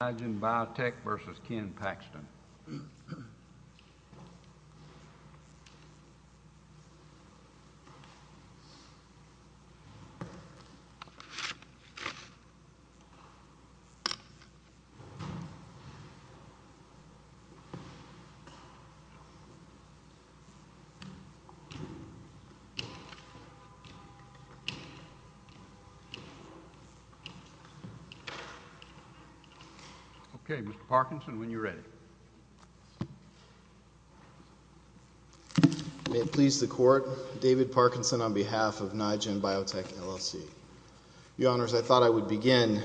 I didn't buy a tech versus Kim Paxton. OK, Mr. Parkinson, when you're ready. May it please the court. David Parkinson on behalf of NIGEN Biotech LLC. Your honors, I thought I would begin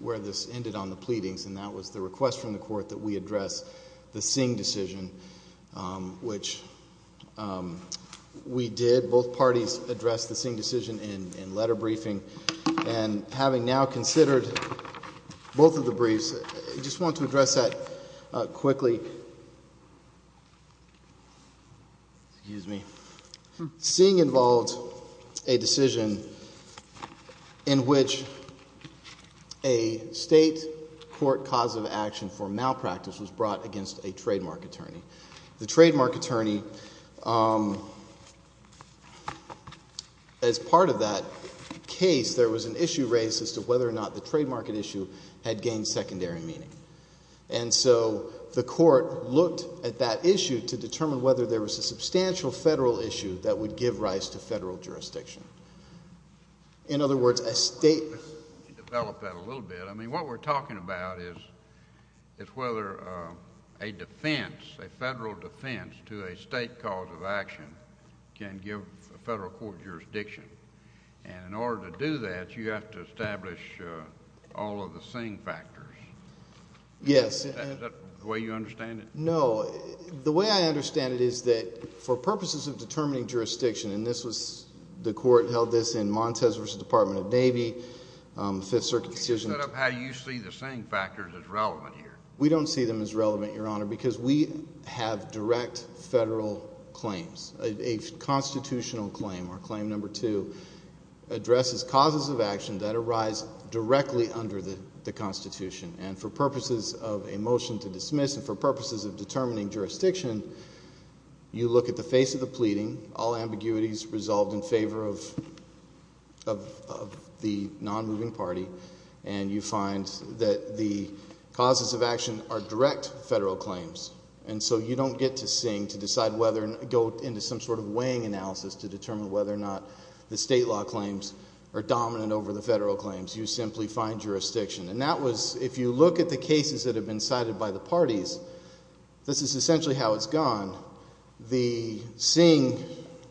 where this ended on the pleadings, and that was the request from the court that we address the Singh decision, which we did. Both parties addressed the Singh decision in letter briefing. And having now considered both of the briefs, I just want to address that quickly. Singh involved a decision in which a state court cause of action for malpractice was brought against a trademark attorney. The trademark attorney, as part of that case, there was an issue raised as to whether or not the trademark issue had gained secondary meaning. And so the court looked at that issue to determine whether there was a substantial federal issue that would give rise to federal jurisdiction. In other words, a state. Develop that a little bit. I mean, what we're talking about is whether a defense, a federal defense, to a state cause of action can give a federal court jurisdiction. And in order to do that, you have to establish all of the Singh factors. Yes. Is that the way you understand it? No. The way I understand it is that for purposes of determining jurisdiction, and this was, the court held this in Montes versus Department of Navy, Fifth Circuit decision. How do you see the Singh factors as relevant here? We don't see them as relevant, Your Honor, because we have direct federal claims. A constitutional claim, or claim number two, addresses causes of action that arise directly under the Constitution. And for purposes of a motion to dismiss, and for purposes of determining jurisdiction, you look at the face of the pleading, all ambiguities resolved in favor of the non-moving party, and you find that the causes of action are direct federal claims. And so you don't get to Singh to decide whether, go into some sort of weighing analysis to determine whether or not the state law claims are dominant over the federal claims. You simply find jurisdiction. And that was, if you look at the cases that have been cited by the parties, this is essentially how it's gone. The Singh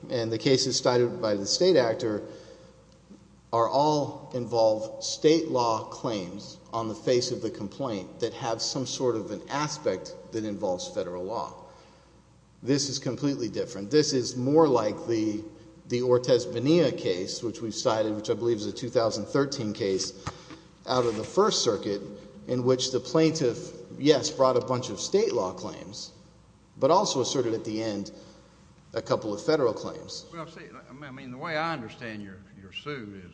and the cases cited by the state actor all involve state law claims on the face of the complaint that have some sort of an aspect that involves federal law. This is completely different. This is more like the Ortiz-Bonilla case, which we've cited, which I believe is a 2013 case out of the First Circuit, in which the plaintiff, yes, brought a bunch of state law claims, but also asserted at the end a couple of federal claims. I mean, the way I understand your suit is,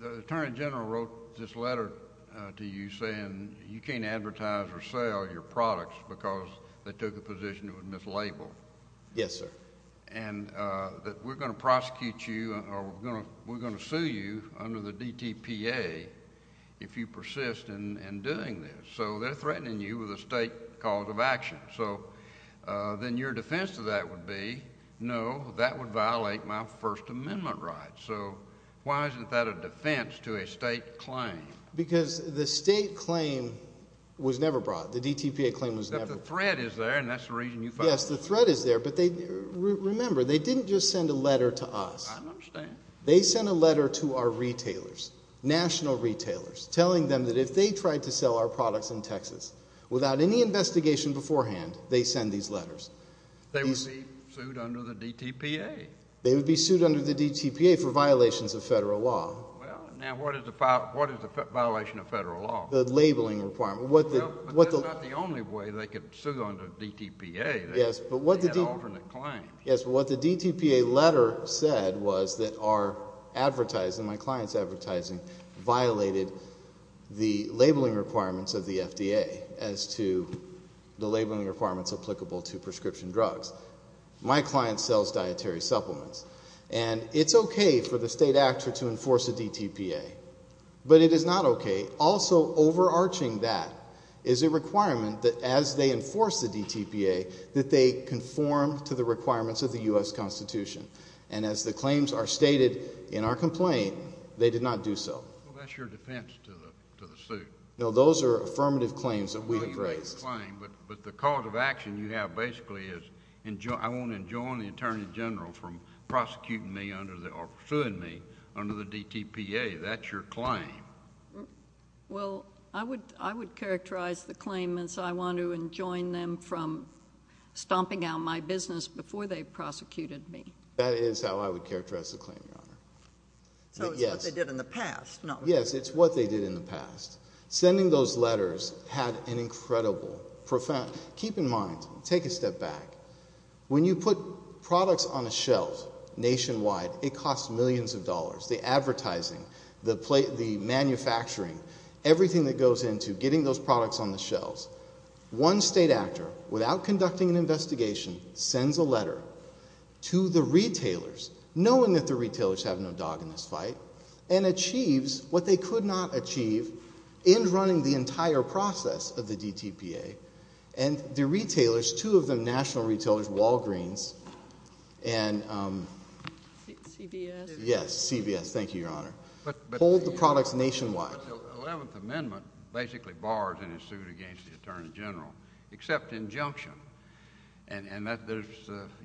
the attorney general wrote this letter to you saying, you can't advertise or sell your products because they took a position that was mislabeled. Yes, sir. And that we're going to prosecute you, or we're going to sue you under the DTPA if you persist in doing this. So they're threatening you with a state cause of action. So then your defense to that would be, no, that would violate my First Amendment rights. So why isn't that a defense to a state claim? Because the state claim was never brought. The DTPA claim was never brought. But the threat is there, and that's the reason you filed. Yes, the threat is there. But remember, they didn't just send a letter to us. I understand. They sent a letter to our retailers, national retailers, telling them that if they tried to sell our products in Texas without any investigation beforehand, they send these letters. They would be sued under the DTPA. They would be sued under the DTPA for violations of federal law. Well, now what is the violation of federal law? The labeling requirement. Well, but that's not the only way they could sue under DTPA. Yes, but what the DTPA letter said was that our advertising, my client's advertising, violated the labeling requirements of the FDA as to the labeling requirements applicable to prescription drugs. My client sells dietary supplements. And it's OK for the state actor to enforce a DTPA. But it is not OK. Also overarching that is a requirement that as they enforce the DTPA, that they conform to the requirements of the US Constitution. And as the claims are stated in our complaint, they did not do so. Well, that's your defense to the suit. No, those are affirmative claims that we have raised. I believe that's a claim. But the cause of action you have basically is I want to enjoin the attorney general from prosecuting me under the, or suing me under the DTPA. That's your claim. Well, I would characterize the claim as I want to enjoin them from stomping out my business before they prosecuted me. That is how I would characterize the claim, Your Honor. So it's what they did in the past, not what they did now. Yes, it's what they did in the past. Sending those letters had an incredible profound, keep in mind, take a step back. When you put products on a shelf nationwide, it costs millions of dollars. The advertising, the manufacturing, everything that goes into getting those products on the shelves. One state actor, without conducting an investigation, sends a letter to the retailers, knowing that the retailers have no dog in this fight, and achieves what they could not achieve in running the entire process of the DTPA. And the retailers, two of them national retailers, Walgreens and CBS. Yes, CBS. Thank you, Your Honor. Hold the products nationwide. The 11th Amendment basically bars any suit against the attorney general, except injunction. And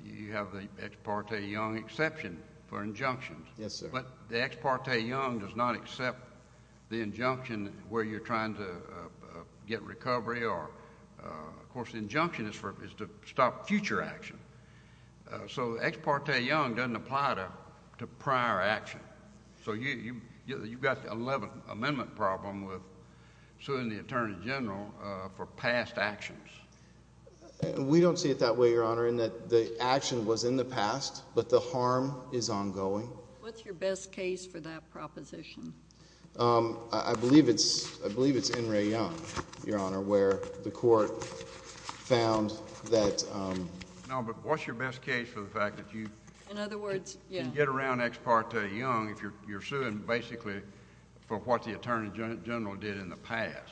you have the ex parte young exception for injunctions. But the ex parte young does not accept the injunction where you're trying to get recovery, or of course, the injunction is to stop future action. So ex parte young doesn't apply to prior action. So you've got the 11th Amendment problem with suing the attorney general for past actions. We don't see it that way, Your Honor, in that the action was in the past, but the harm is ongoing. What's your best case for that proposition? I believe it's N. Ray Young, Your Honor, where the court found that. No, but what's your best case for the fact that you get around ex parte young if you're doing what the attorney general did in the past?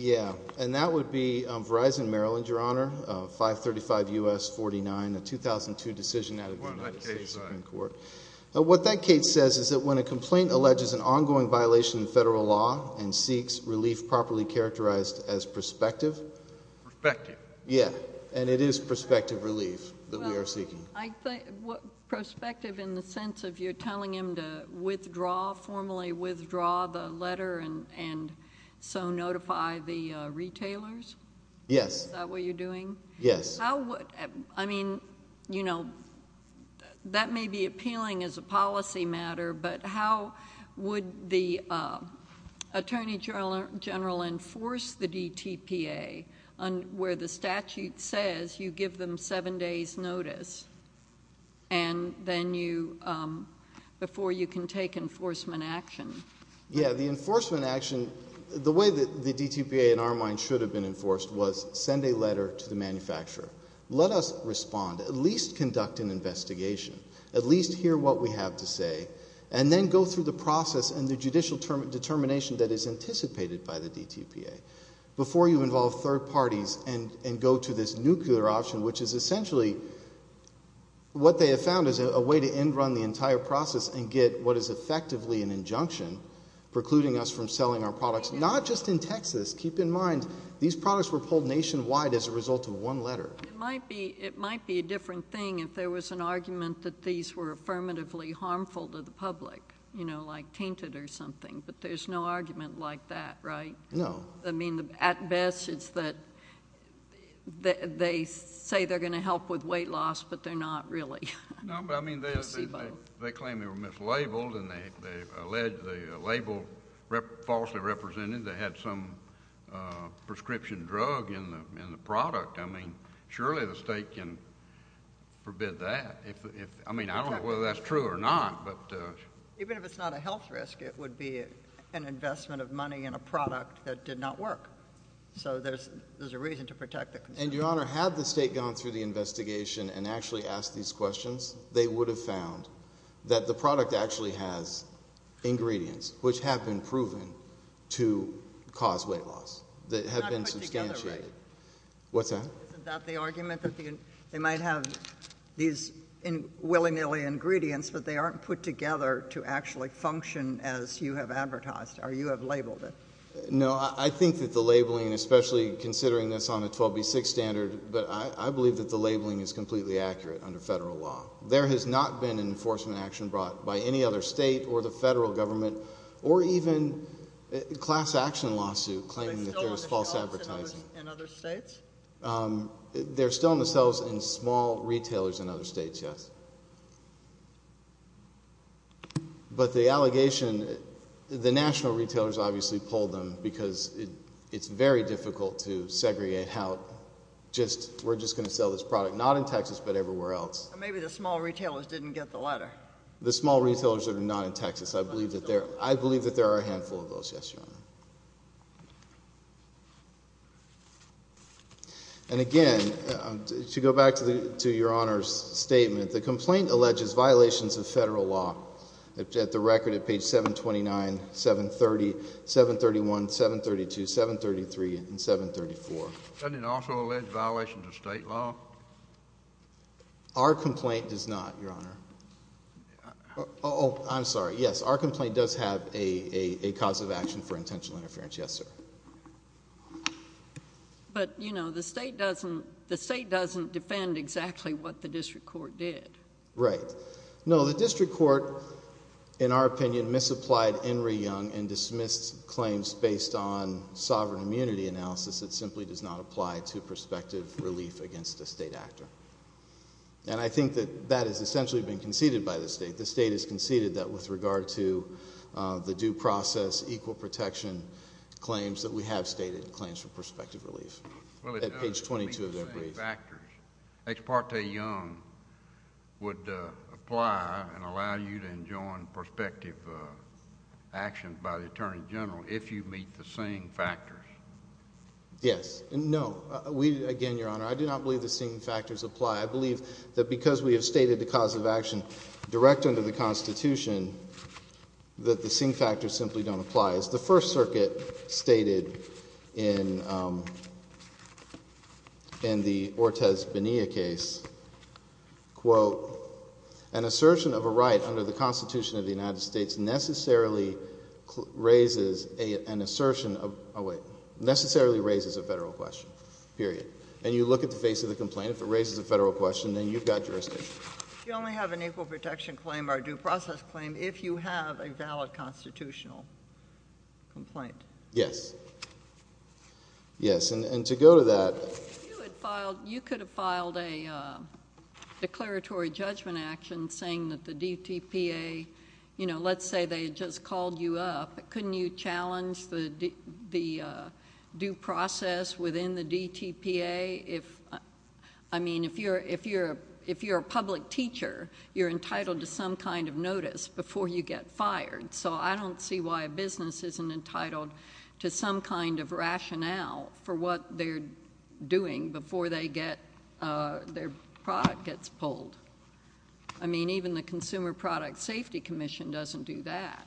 Yeah, and that would be Verizon Maryland, Your Honor, 535 U.S. 49, a 2002 decision out of the United States Supreme Court. What that case says is that when a complaint alleges an ongoing violation of federal law and seeks relief properly characterized as prospective. Prospective. Yeah, and it is prospective relief that we are seeking. Prospective in the sense of you're telling him to formally withdraw the letter and so notify the retailers? Yes. Is that what you're doing? Yes. I mean, that may be appealing as a policy matter, but how would the attorney general enforce the DTPA where the statute says you give them seven days notice before you can take enforcement action? Yeah, the enforcement action, the way that the DTPA in our mind should have been enforced was send a letter to the manufacturer. Let us respond, at least conduct an investigation, at least hear what we have to say, and then go through the process and the judicial determination that is anticipated by the DTPA before you involve third parties and go to this nuclear option, which is essentially what they have found is a way to end run the entire process and get what is effectively an injunction precluding us from selling our products. Not just in Texas. Keep in mind, these products were pulled nationwide as a result of one letter. It might be a different thing if there was an argument that these were affirmatively harmful to the public, you know, like tainted or something. But there's no argument like that, right? No. I mean, at best, it's that they say they're going to help with weight loss, but they're not really. No, but I mean, they claim they were mislabeled, and they allege the label falsely represented. They had some prescription drug in the product. I mean, surely the state can forbid that. I mean, I don't know whether that's true or not, but. Even if it's not a health risk, it would be an investment of money in a product that did not work. So there's a reason to protect the consumer. And Your Honor, had the state gone through the investigation and actually asked these questions, they would have found that the product actually has ingredients which have been proven to cause weight loss. That have been substantiated. What's that? Isn't that the argument? They might have these willy-nilly ingredients, but they aren't put together to actually function as you have advertised, or you have labeled it. No, I think that the labeling, especially considering this on a 12b6 standard, but I believe that the labeling is completely accurate under federal law. There has not been an enforcement action brought by any other state or the federal government, or even a class action lawsuit claiming that there's false advertising. Are they still on the shelves in other states? They're still on the shelves in small retailers in other states, yes. But the allegation, the national retailers obviously pulled them because it's very difficult to segregate how just, we're just going to sell this product not in Texas, but everywhere else. Or maybe the small retailers didn't get the letter. The small retailers that are not in Texas. I believe that there are a handful of those, yes, Your Honor. And again, to go back to Your Honor's statement, the complaint alleges violations of federal law at the record at page 729, 730, 731, 732, 733, and 734. Doesn't it also allege violations of state law? Our complaint does not, Your Honor. Oh, I'm sorry. But it doesn't have a cause of action for intent of violation. Potential interference, yes, sir. But the state doesn't defend exactly what the district court did. Right. No, the district court, in our opinion, misapplied Henry Young and dismissed claims based on sovereign immunity analysis that simply does not apply to prospective relief against a state actor. And I think that that has essentially been conceded by the state. The state has conceded that with regard to the due process equal protection claims that we have stated in claims for prospective relief at page 22 of their brief. Ex parte Young would apply and allow you to enjoin prospective action by the attorney general if you meet the seeing factors. Yes. No. Again, Your Honor, I do not believe the seeing factors apply. I believe that because we have stated the cause of action direct under the Constitution that the seeing factors simply don't apply. As the First Circuit stated in the Ortiz-Bonilla case, quote, an assertion of a right under the Constitution of the United States necessarily raises an assertion of, oh wait, necessarily raises a federal question, period. And you look at the face of the complaint. If it raises a federal question, then you've got jurisdiction. You only have an equal protection claim or a due process claim if you have a valid constitutional complaint. Yes. Yes, and to go to that. You could have filed a declaratory judgment action saying that the DTPA, let's say they had just called you up. Couldn't you challenge the due process within the DTPA? If you're a public teacher, you're entitled to some kind of notice before you get fired. So I don't see why a business isn't entitled to some kind of rationale for what they're doing before their product gets pulled. I mean, even the Consumer Product Safety Commission doesn't do that.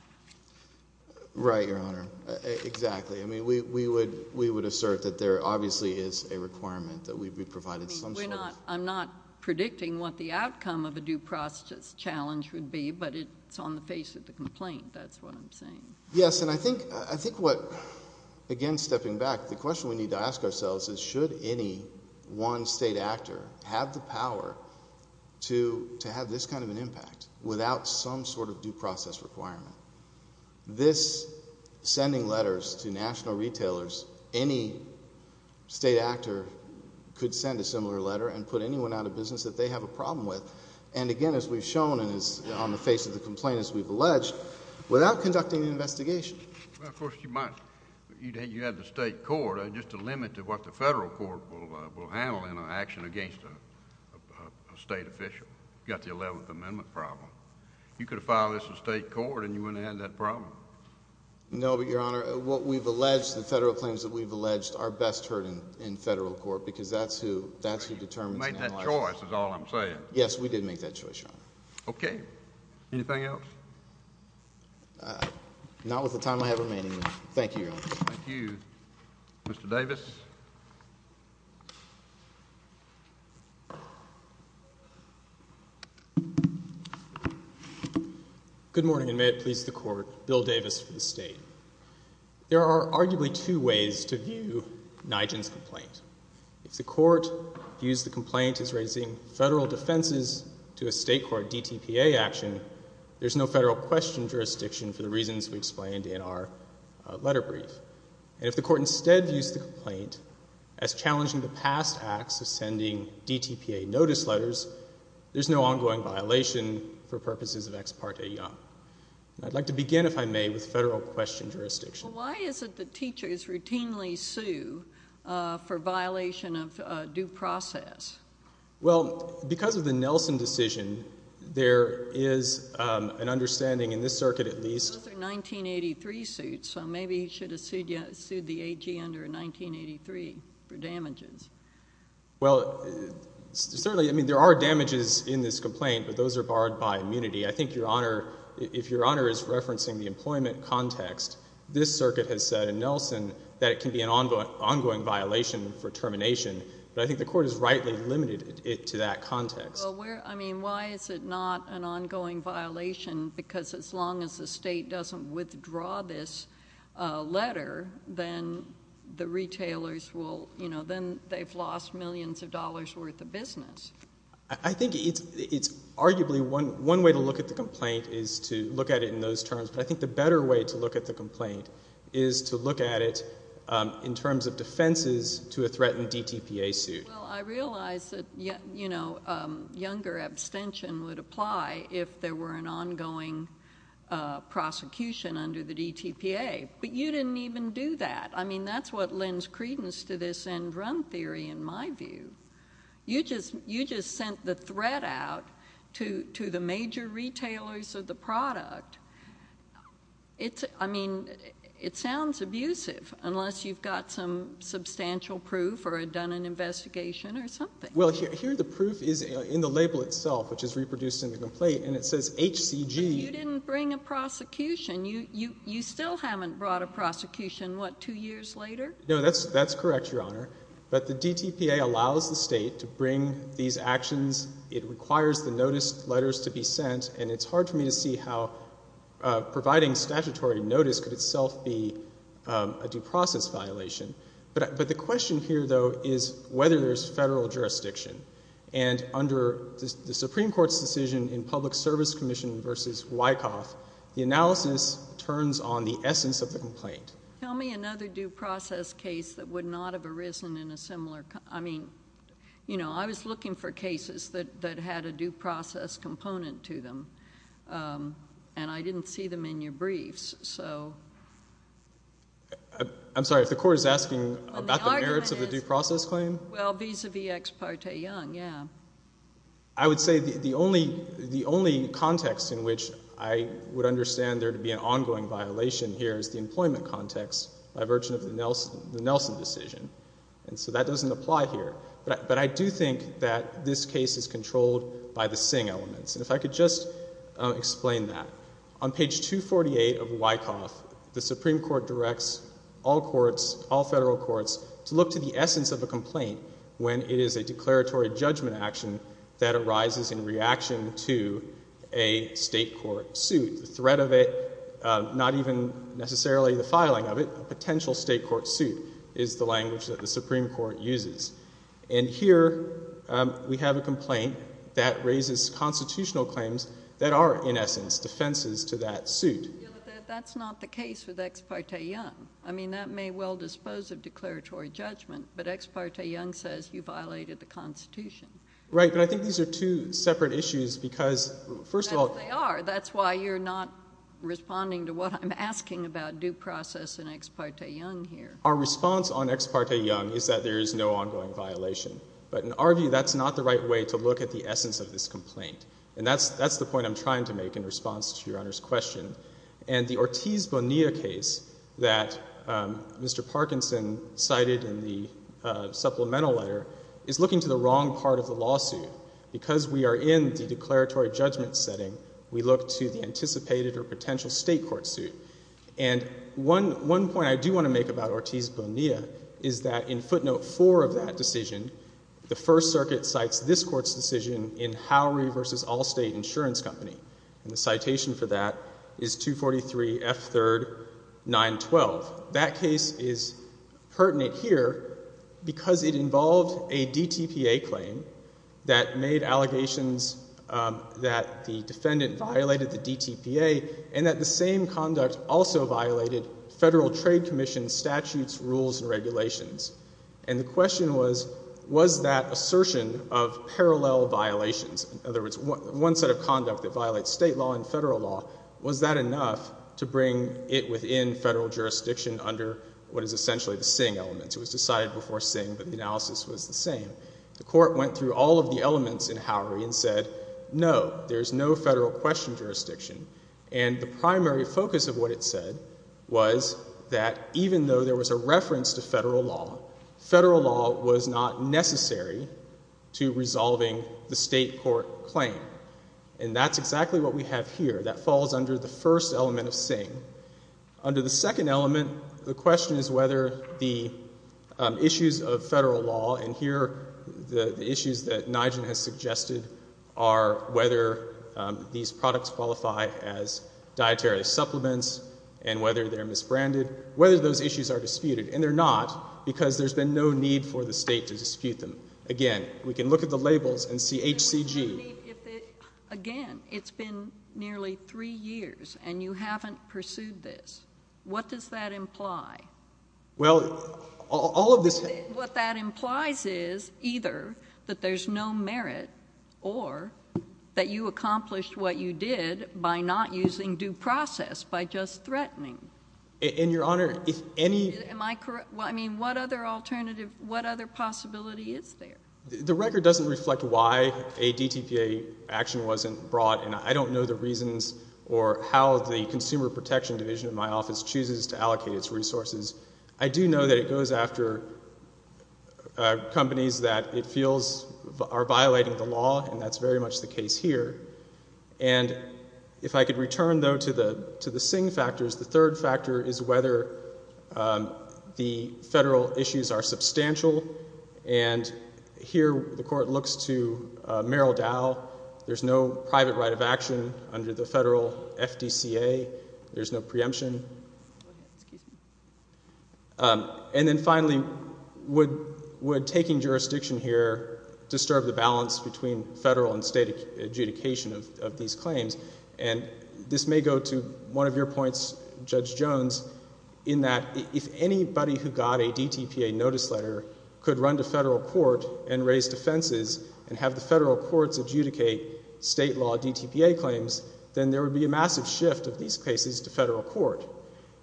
Right, Your Honor. Exactly. I mean, we would assert that there obviously is a requirement that we be provided some sort of. I'm not predicting what the outcome of a due process challenge would be, but it's on the face of the complaint. That's what I'm saying. Yes, and I think what, again stepping back, the question we need to ask ourselves is should any one state actor have the power to have this kind of an impact without some sort of due process requirement? This sending letters to national retailers, any state actor could send a similar letter and put anyone out of business that they have a problem with. And again, as we've shown and is on the face of the complaint as we've alleged, without conducting an investigation. Well, of course, you might. You'd have the state court. Just a limit to what the federal court will handle in an action against a state official. You've got the 11th Amendment problem. You could file this in state court and you wouldn't have had that problem. No, but Your Honor, what we've alleged, the federal claims that we've alleged are best heard in federal court, because that's who determines an election. You made that choice is all I'm saying. Yes, we did make that choice, Your Honor. OK. Anything else? Not with the time I have remaining. Thank you, Your Honor. Thank you. Mr. Davis. Good morning, and may it please the court, Bill Davis for the state. There are arguably two ways to view Nijin's complaint. If the court views the complaint as raising federal defenses to a state court DTPA action, there's no federal question jurisdiction for the reasons we explained in our letter brief. And if the court instead views the complaint as challenging the past acts of sending DTPA notice letters, there's no ongoing violation for purposes of ex parte young. I'd like to begin, if I may, with federal question jurisdiction. Why is it that teachers routinely sue for violation of due process? Well, because of the Nelson decision, there is an understanding in this circuit, at least. Those are 1983 suits, so maybe he should have sued the AG under 1983 for damages. Well, certainly, I mean, there are damages in this complaint, but those are barred by immunity. I think, Your Honor, if Your Honor is referencing the employment context, this circuit has said in Nelson that it can be an ongoing violation for termination, but I think the court has rightly limited it to that context. I mean, why is it not an ongoing violation? Because as long as the state doesn't withdraw this letter, then the retailers will, you know, then they've lost millions of dollars worth of business. I think it's arguably one way to look at the complaint is to look at it in those terms, but I think the better way to look at the complaint is to look at it in terms of defenses to a threatened DTPA suit. Well, I realize that younger abstention would apply if there were an ongoing prosecution under the DTPA, but you didn't even do that. I mean, that's what lends credence to this end run theory, in my view. You just sent the threat out to the major retailers of the product. I mean, it sounds abusive, unless you've got some substantial proof or had done an investigation or something. Well, here the proof is in the label itself, which is reproduced in the complaint, and it says HCG. But you didn't bring a prosecution. You still haven't brought a prosecution, what, two years later? No, that's correct, Your Honor, but the DTPA allows the state to bring these actions. It requires the notice letters to be sent, and it's hard for me to see how providing statutory notice could itself be a due process violation. But the question here, though, is whether there's federal jurisdiction. And under the Supreme Court's decision in Public Service Commission versus Wyckoff, the analysis turns on the essence of the complaint. Tell me another due process case that would not have arisen in a similar, I mean, you know, I was looking for cases that had a due process component to them, and I didn't see them in your briefs, so. I'm sorry, if the court is asking about the merits of the due process claim? Well, vis-a-vis Ex parte Young, yeah. I would say the only context in which I would understand there to be an ongoing violation here is the employment context by virtue of the Nelson decision. And so that doesn't apply here. But I do think that this case is controlled by the Singh elements. And if I could just explain that. On page 248 of Wyckoff, the Supreme Court directs all courts, all federal courts, to look to the essence of a complaint when it is a declaratory judgment action that arises in reaction to a state court suit. The threat of it, not even necessarily the filing of it, a potential state court suit is the language that the Supreme Court uses. And here, we have a complaint that raises constitutional claims that are, in essence, defenses to that suit. That's not the case with Ex parte Young. I mean, that may well dispose of declaratory judgment, but Ex parte Young says you violated the Constitution. Right, but I think these are two separate issues, because first of all. They are. That's why you're not responding to what I'm asking about due process in Ex parte Young here. Our response on Ex parte Young is that there is no ongoing violation. But in our view, that's not the right way to look at the essence of this complaint. And that's the point I'm trying to make in response to Your Honor's question. And the Ortiz Bonilla case that Mr. Parkinson cited in the supplemental letter is looking to the wrong part of the lawsuit. Because we are in the declaratory judgment setting, we look to the anticipated or potential state court suit. And one point I do want to make about Ortiz Bonilla is that in footnote four of that decision, the First Circuit cites this court's decision in Howry v. Allstate Insurance Company. And the citation for that is 243 F3 912. That case is pertinent here because it involved a DTPA claim that made allegations that the defendant violated the DTPA and that the same conduct also violated Federal Trade Commission statutes, rules, and regulations. And the question was, was that assertion of parallel violations, in other words, one set of conduct that violates state law and federal law, was that enough to bring it within federal jurisdiction under what is essentially the Singh elements? It was decided before Singh, but the analysis was the same. The court went through all of the elements in Howry and said, no, there's no federal question jurisdiction. And the primary focus of what it said was that even though there was a reference to federal law, federal law was not necessary to resolving the state court claim. And that's exactly what we have here. That falls under the first element of Singh. Under the second element, the question is whether the issues of federal law, and here, the issues that Nijgen has suggested are whether these products qualify as dietary supplements and whether they're misbranded, whether those issues are disputed. And they're not, because there's been no need for the state to dispute them. Again, we can look at the labels and see HCG. Again, it's been nearly three years, and you haven't pursued this. What does that imply? Well, all of this has. What that implies is either that there's no merit or that you accomplished what you did by not using due process, by just threatening. And Your Honor, if any. Am I correct? I mean, what other alternative, what other possibility is there? The record doesn't reflect why a DTPA action wasn't brought, and I don't know the reasons or how the Consumer Protection Division in my office chooses to allocate its resources. I do know that it goes after companies that it feels are violating the law, and that's very much the case here. And if I could return, though, to the Singh factors, the third factor is whether the federal issues are substantial. And here, the court looks to Merrill Dow. There's no private right of action under the federal FDCA. There's no preemption. Excuse me. And then finally, would taking jurisdiction here disturb the balance between federal and state adjudication of these claims? And this may go to one of your points, Judge Jones, in that if anybody who got a DTPA notice letter could run to federal court and raise defenses and have the federal courts adjudicate state law DTPA claims, then there would be a massive shift of these cases to federal court.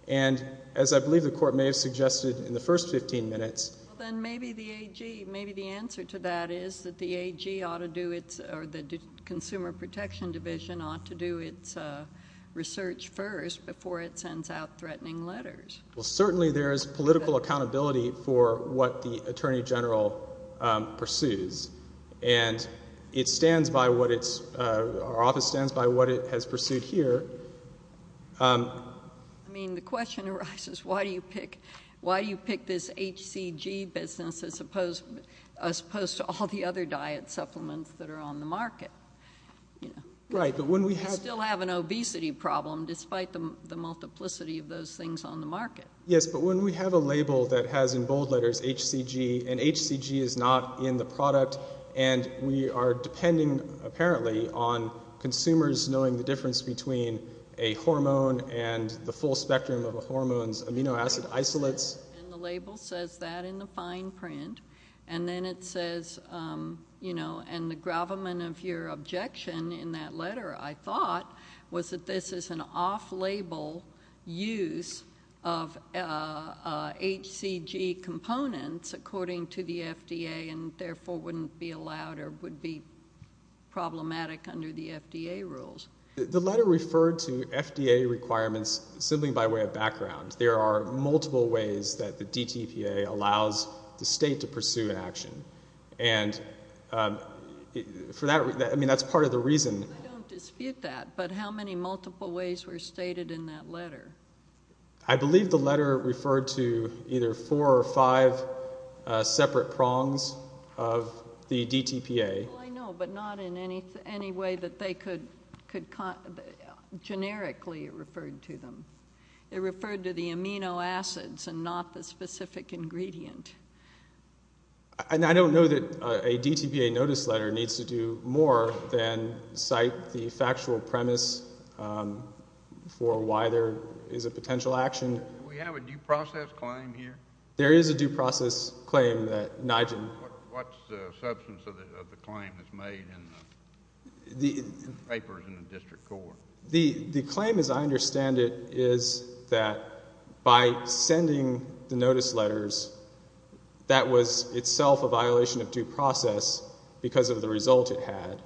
And as I believe the court may have suggested in the first 15 minutes. Then maybe the AG, maybe the answer to that is that the AG ought to do its, or the Consumer Protection Division ought to do its research first before it sends out threatening letters. Well, certainly there is political accountability for what the Attorney General pursues. And it stands by what it's, our office stands by what it has pursued here. I mean, the question arises, why do you pick this HCG business as opposed to all the other diet supplements that are on the market? Right, but when we have. We still have an obesity problem despite the multiplicity of those things on the market. Yes, but when we have a label that has in bold letters HCG, and HCG is not in the product, and we are depending, apparently, on consumers knowing the difference between a hormone and the full spectrum of a hormone's amino acid isolates. And the label says that in the fine print. And then it says, and the gravamen of your objection in that letter, I thought, was that this is an off-label use of HCG components according to the FDA, and therefore wouldn't be allowed or would be problematic under the FDA rules. The letter referred to FDA requirements simply by way of background. There are multiple ways that the DTPA allows the state to pursue action. And for that, I mean, that's part of the reason. I don't dispute that, but how many multiple ways were stated in that letter? I believe the letter referred to either four or five separate prongs of the DTPA. Well, I know, but not in any way that they could, generically, it referred to them. It referred to the amino acids and not the specific ingredient. And I don't know that a DTPA notice letter needs to do more than cite the factual premise for why there is a potential action. Do we have a due process claim here? There is a due process claim that NIGIN. What's the substance of the claim that's made in the papers in the district court? The claim, as I understand it, is that by sending the notice letters, that was itself a violation of due process because of the result it had.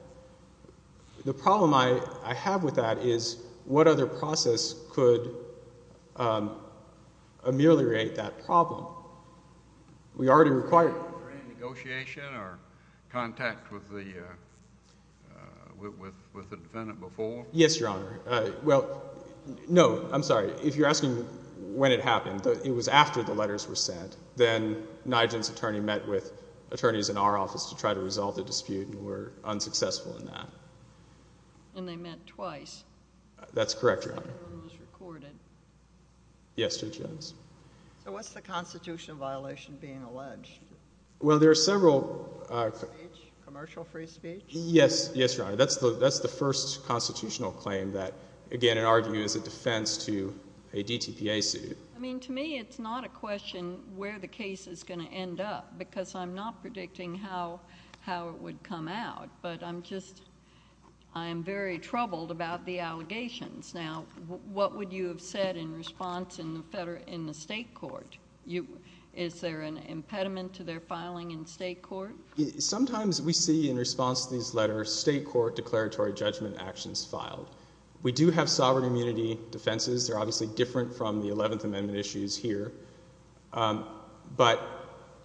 The problem I have with that is what other process could ameliorate that problem. We already required it. Was there any negotiation or contact with the defendant before? Yes, Your Honor. Well, no, I'm sorry. If you're asking when it happened, it was after the letters were sent. Then NIGIN's attorney met with attorneys in our office to try to resolve the dispute and were unsuccessful in that. And they met twice. That's correct, Your Honor. That was recorded. Yes, Judge Jones. So what's the constitutional violation being alleged? Well, there are several. Free speech? Commercial free speech? Yes, Your Honor. That's the first constitutional claim that, again, in our view, is a defense to a DTPA suit. I mean, to me, it's not a question where the case is going to end up because I'm not predicting how it would come out. But I'm just very troubled about the allegations. Now, what would you have said in response in the state court? Is there an impediment to their filing in state court? Sometimes we see, in response to these letters, state court declaratory judgment actions filed. We do have sovereign immunity defenses. They're obviously different from the 11th Amendment issues here. But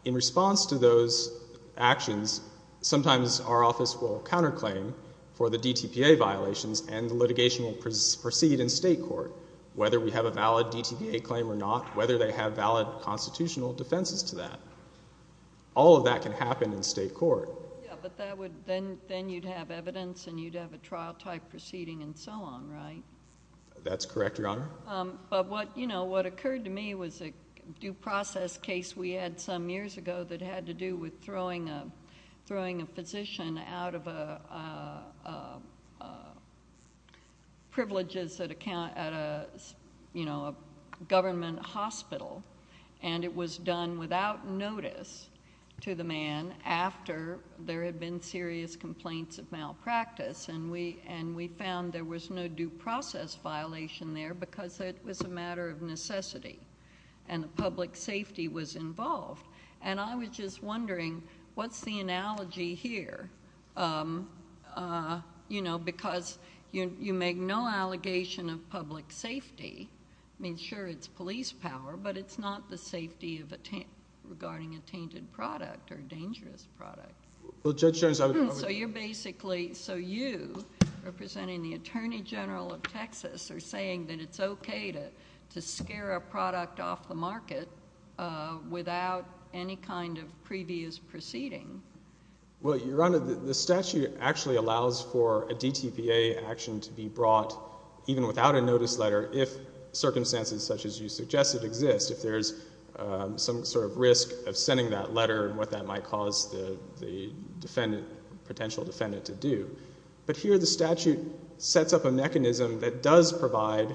in response to those actions, sometimes our office will counterclaim for the DTPA violations. And the litigation will proceed in state court, whether we have a valid DTPA claim or not, whether they have valid constitutional defenses to that. All of that can happen in state court. Yeah, but then you'd have evidence, and you'd have a trial-type proceeding, and so on, right? That's correct, Your Honor. But what occurred to me was a due process case we had some years ago that had to do with throwing a physician out of a government hospital. And it was done without notice to the man after there had been serious complaints of malpractice. And we found there was no due process violation there because it was a matter of necessity. And the public safety was involved. And I was just wondering, what's the analogy here? Because you make no allegation of public safety. I mean, sure, it's police power. But it's not the safety regarding a tainted product or dangerous product. Well, Judge Jones, I would agree. So you, representing the Attorney General of Texas, are saying that it's OK to scare a product off the market without any kind of previous proceeding. Well, Your Honor, the statute actually allows for a DTPA action to be brought, even without a notice letter, if circumstances such as you suggested exist, if there's some sort of risk of sending that letter and what that might cause the potential defendant to do. But here, the statute sets up a mechanism that does provide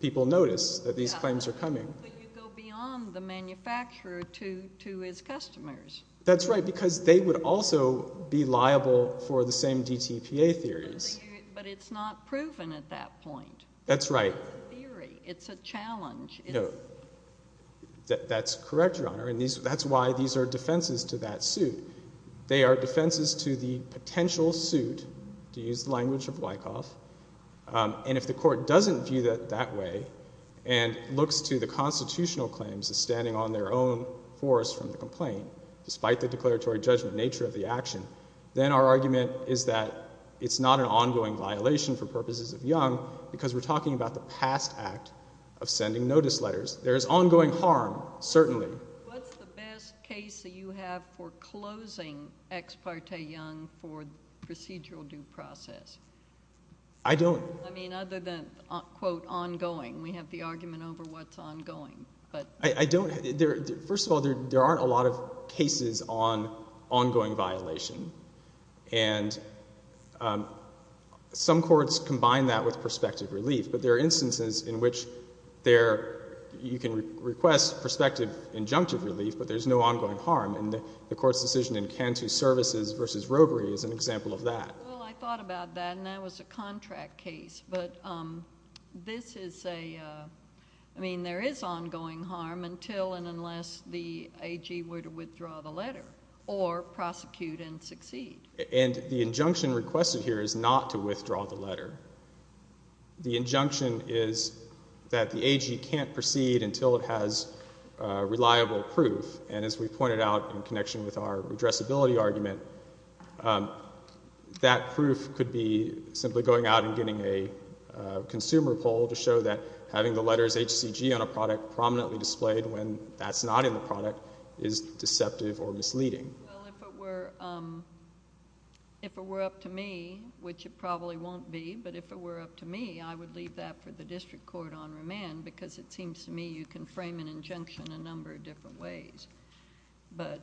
people notice that these claims are coming. But you go beyond the manufacturer to his customers. That's right, because they would also be liable for the same DTPA theories. But it's not proven at that point. That's right. It's a challenge. That's correct, Your Honor. And that's why these are defenses to that suit. They are defenses to the potential suit, to use the language of Wyckoff. And if the court doesn't view it that way and looks to the constitutional claims as standing on their own force from the complaint, despite the declaratory judgment nature of the action, then our argument is that it's not an ongoing violation for purposes of Young, because we're talking about the past act of sending notice letters. There is ongoing harm, certainly. What's the best case that you have for closing Ex parte Young for procedural due process? I don't. I mean, other than, quote, ongoing. We have the argument over what's ongoing. I don't. First of all, there aren't a lot of cases on ongoing violation. And some courts combine that with prospective relief. But there are instances in which you can request prospective injunctive relief, but there's no ongoing harm. And the court's decision in Cantu Services versus Rovery is an example of that. Well, I thought about that. And that was a contract case. But this is a, I mean, there is ongoing harm until and unless the AG were to withdraw the letter or prosecute and succeed. And the injunction requested here is not to withdraw the letter. The injunction is that the AG can't proceed until it has reliable proof. And as we pointed out in connection with our addressability argument, that proof could be simply going out and getting a consumer poll to show that having the letters HCG on a product prominently displayed when that's not in the product is deceptive or misleading. Well, if it were up to me, which it probably won't be, but if it were up to me, I would leave that for the district court on remand. Because it seems to me you can frame an injunction in a number of different ways. But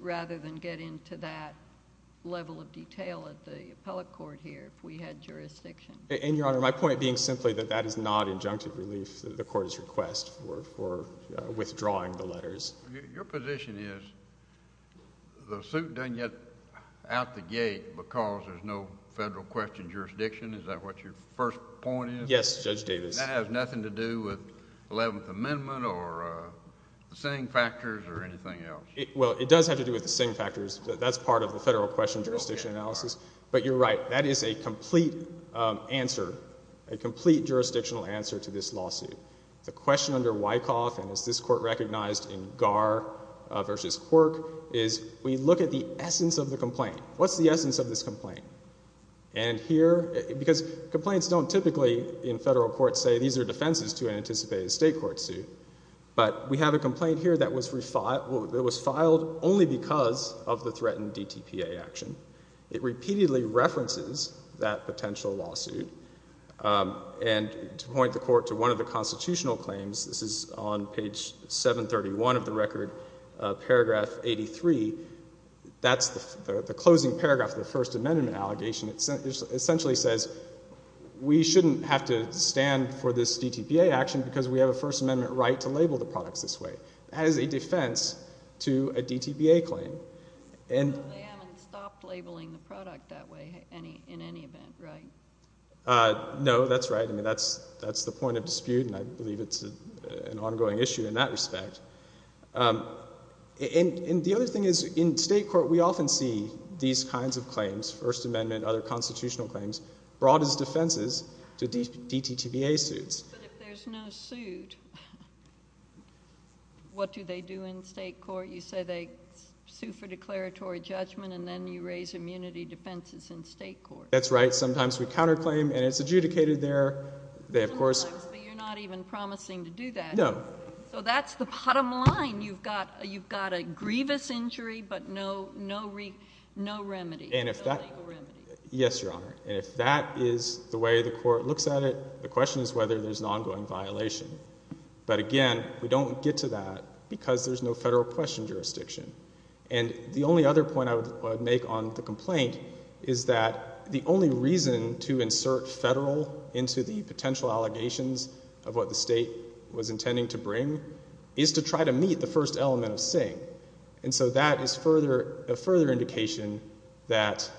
rather than get into that level of detail at the appellate court here, if we had jurisdiction. And, Your Honor, my point being simply that that is not injunctive relief that the court has requested for withdrawing the letters. Your position is the suit doesn't get out the gate because there's no federal question of jurisdiction. Is that what your first point is? Yes, Judge Davis. That has nothing to do with 11th Amendment or the Singh factors or anything else. Well, it does have to do with the Singh factors. That's part of the federal question jurisdiction analysis. But you're right. That is a complete answer, a complete jurisdictional answer to this lawsuit. The question under Wyckoff, and as this court recognized in Garr versus Quirk, is we look at the essence of the complaint. What's the essence of this complaint? And here, because complaints don't typically in federal court say these are defenses to an anticipated state court suit. But we have a complaint here that was filed only because of the threatened DTPA action. It repeatedly references that potential lawsuit. And to point the court to one of the constitutional claims, this is on page 731 of the record, paragraph 83. That's the closing paragraph of the First Amendment allegation. It essentially says we shouldn't have to stand for this DTPA action because we have a First Amendment right to label the products this way. That is a defense to a DTPA claim. And they haven't stopped labeling the product that way in any event, right? No, that's right. I mean, that's the point of dispute. And I believe it's an ongoing issue in that respect. And the other thing is in state court, we often see these kinds of claims, First Amendment, other constitutional claims, brought as defenses to DTPA suits. But if there's no suit, what do they do in state court? You say they sue for declaratory judgment, and then you raise immunity defenses in state court. That's right. Sometimes we counterclaim, and it's adjudicated there. They, of course. But you're not even promising to do that. No. So that's the bottom line. You've got a grievous injury, but no remedy. And if that, yes, Your Honor. And if that is the way the court looks at it, the question is whether there's an ongoing violation. But again, we don't get to that because there's no federal question jurisdiction. And the only other point I would make on the complaint is that the only reason to insert federal into the potential allegations of what the state was intending to bring is to try to meet the first element of Singh. And so that is a further indication that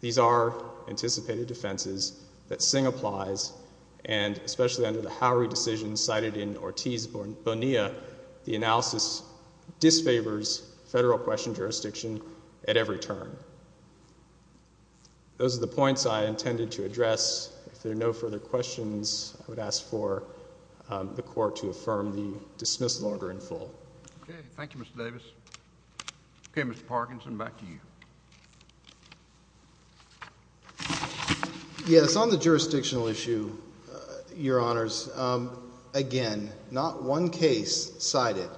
these are anticipated defenses that Singh applies. And especially under the Howry decision cited in Ortiz Bonilla, the analysis disfavors federal question jurisdiction at every turn. Those are the points I intended to address. If there are no further questions, I would ask for the court to affirm the dismissal order in full. Thank you, Mr. Davis. OK, Mr. Parkinson, back to you. Yes, on the jurisdictional issue, Your Honors, again, not one case cited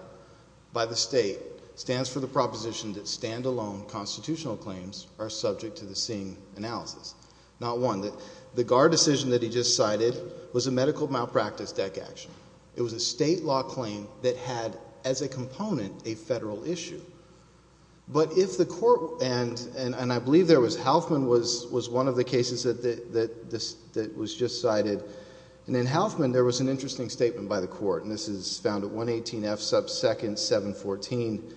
by the state stands for the proposition that standalone constitutional claims are subject to the Singh analysis. Not one. The GAR decision that he just cited was a medical malpractice deck action. It was a state law claim that had, as a component, a federal issue. But if the court, and I believe there was, Houthman was one of the cases that was just cited. And in Houthman, there was an interesting statement by the court. And this is found at 118 F sub 2nd 714.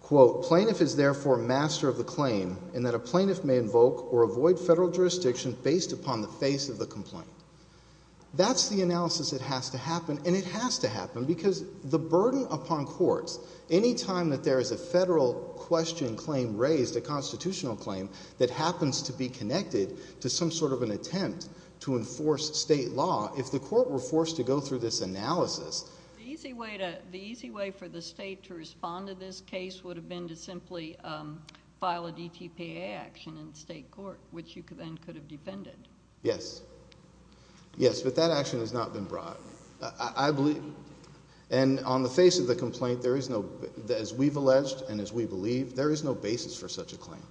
Quote, plaintiff is therefore master of the claim in that a plaintiff may invoke or avoid federal jurisdiction based upon the face of the complaint. That's the analysis that has to happen. And it has to happen because the burden upon courts any time that there is a federal question claim raised, a constitutional claim, that happens to be connected to some sort of an attempt to enforce state law, if the court were forced to go through this analysis. The easy way for the state to respond to this case would have been to simply file a DTPA action in state court, which you then could have defended. Yes. Yes, but that action has not been brought. And on the face of the complaint, as we've alleged and as we believe, there is no basis for such a claim.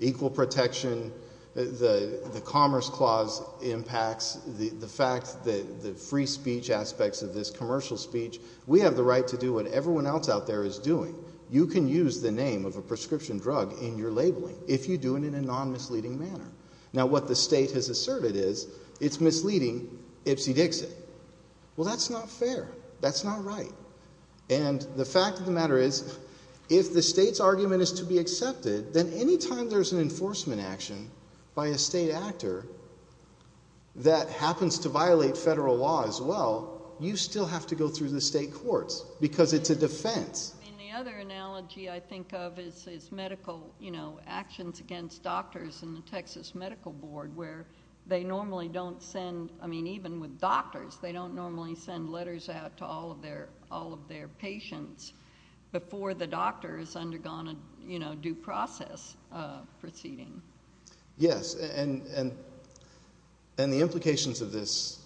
Equal protection, the Commerce Clause impacts the fact that the free speech aspects of this commercial speech, we have the right to do what everyone else out there is doing. You can use the name of a prescription drug in your labeling if you do it in a non-misleading manner. Now what the state has asserted is, it's misleading ipsy dixy. Well, that's not fair. That's not right. And the fact of the matter is, if the state's argument is to be accepted, then any time there's an enforcement action by a state actor that happens to violate federal law as well, you still have to go through the state courts, because it's a defense. And the other analogy I think of is medical actions against doctors in the Texas Medical Board, where they normally don't send, I mean, even with doctors, they don't normally send letters out to all of their patients before the doctor has undergone a due process proceeding. Yes, and the implications of this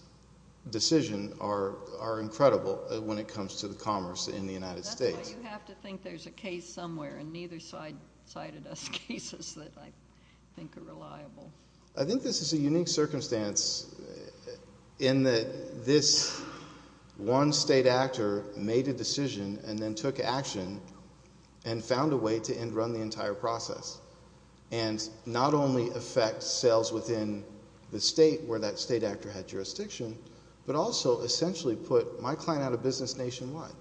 decision are incredible when it comes to the commerce in the United States. That's why you have to think there's a case somewhere, and neither side cited us cases that I think are reliable. I think this is a unique circumstance in that this one state actor made a decision and then took action and found a way to end run the entire process, and not only affect sales within the state where that state actor had jurisdiction, but also essentially put my client out of business nationwide,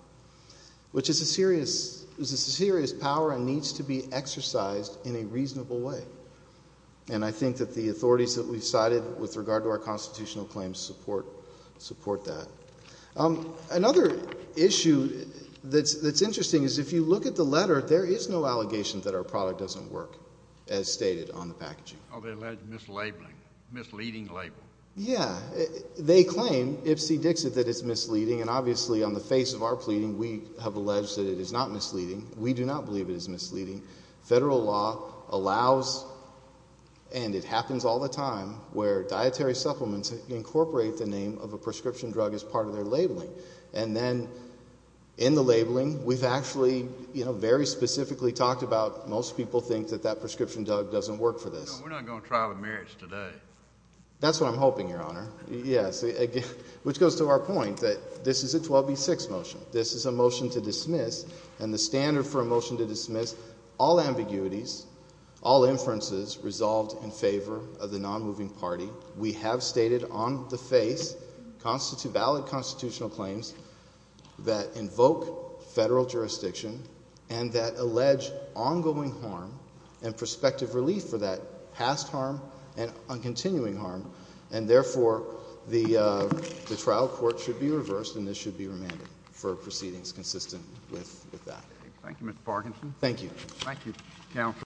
which is a serious power and needs to be exercised in a reasonable way. And I think that the authorities that we cited with regard to our constitutional claims support that. Another issue that's interesting is if you look at the letter, there is no allegation that our product doesn't work, as stated on the packaging. Are they alleged mislabeling, misleading label? Yeah. They claim, Ipsy Dixit, that it's misleading. And obviously, on the face of our pleading, we have alleged that it is not misleading. We do not believe it is misleading. Federal law allows, and it happens all the time, where dietary supplements incorporate the name of a prescription drug as part of their labeling. And then, in the labeling, we've actually, you know, very specifically talked about most people think that that prescription drug doesn't work for this. No, we're not going to trial of merits today. That's what I'm hoping, Your Honor. Yes. Which goes to our point that this is a 12B6 motion. This is a motion to dismiss. And the standard for a motion to dismiss, all ambiguities, all inferences resolved in favor of the non-moving party. We have stated on the face valid constitutional claims that invoke federal jurisdiction and that allege ongoing harm and prospective relief for that past harm and on continuing harm. And therefore, the trial court should be reversed, and this should be remanded for proceedings consistent with that. Thank you, Mr. Parkinson. Thank you. Thank you, Counsel.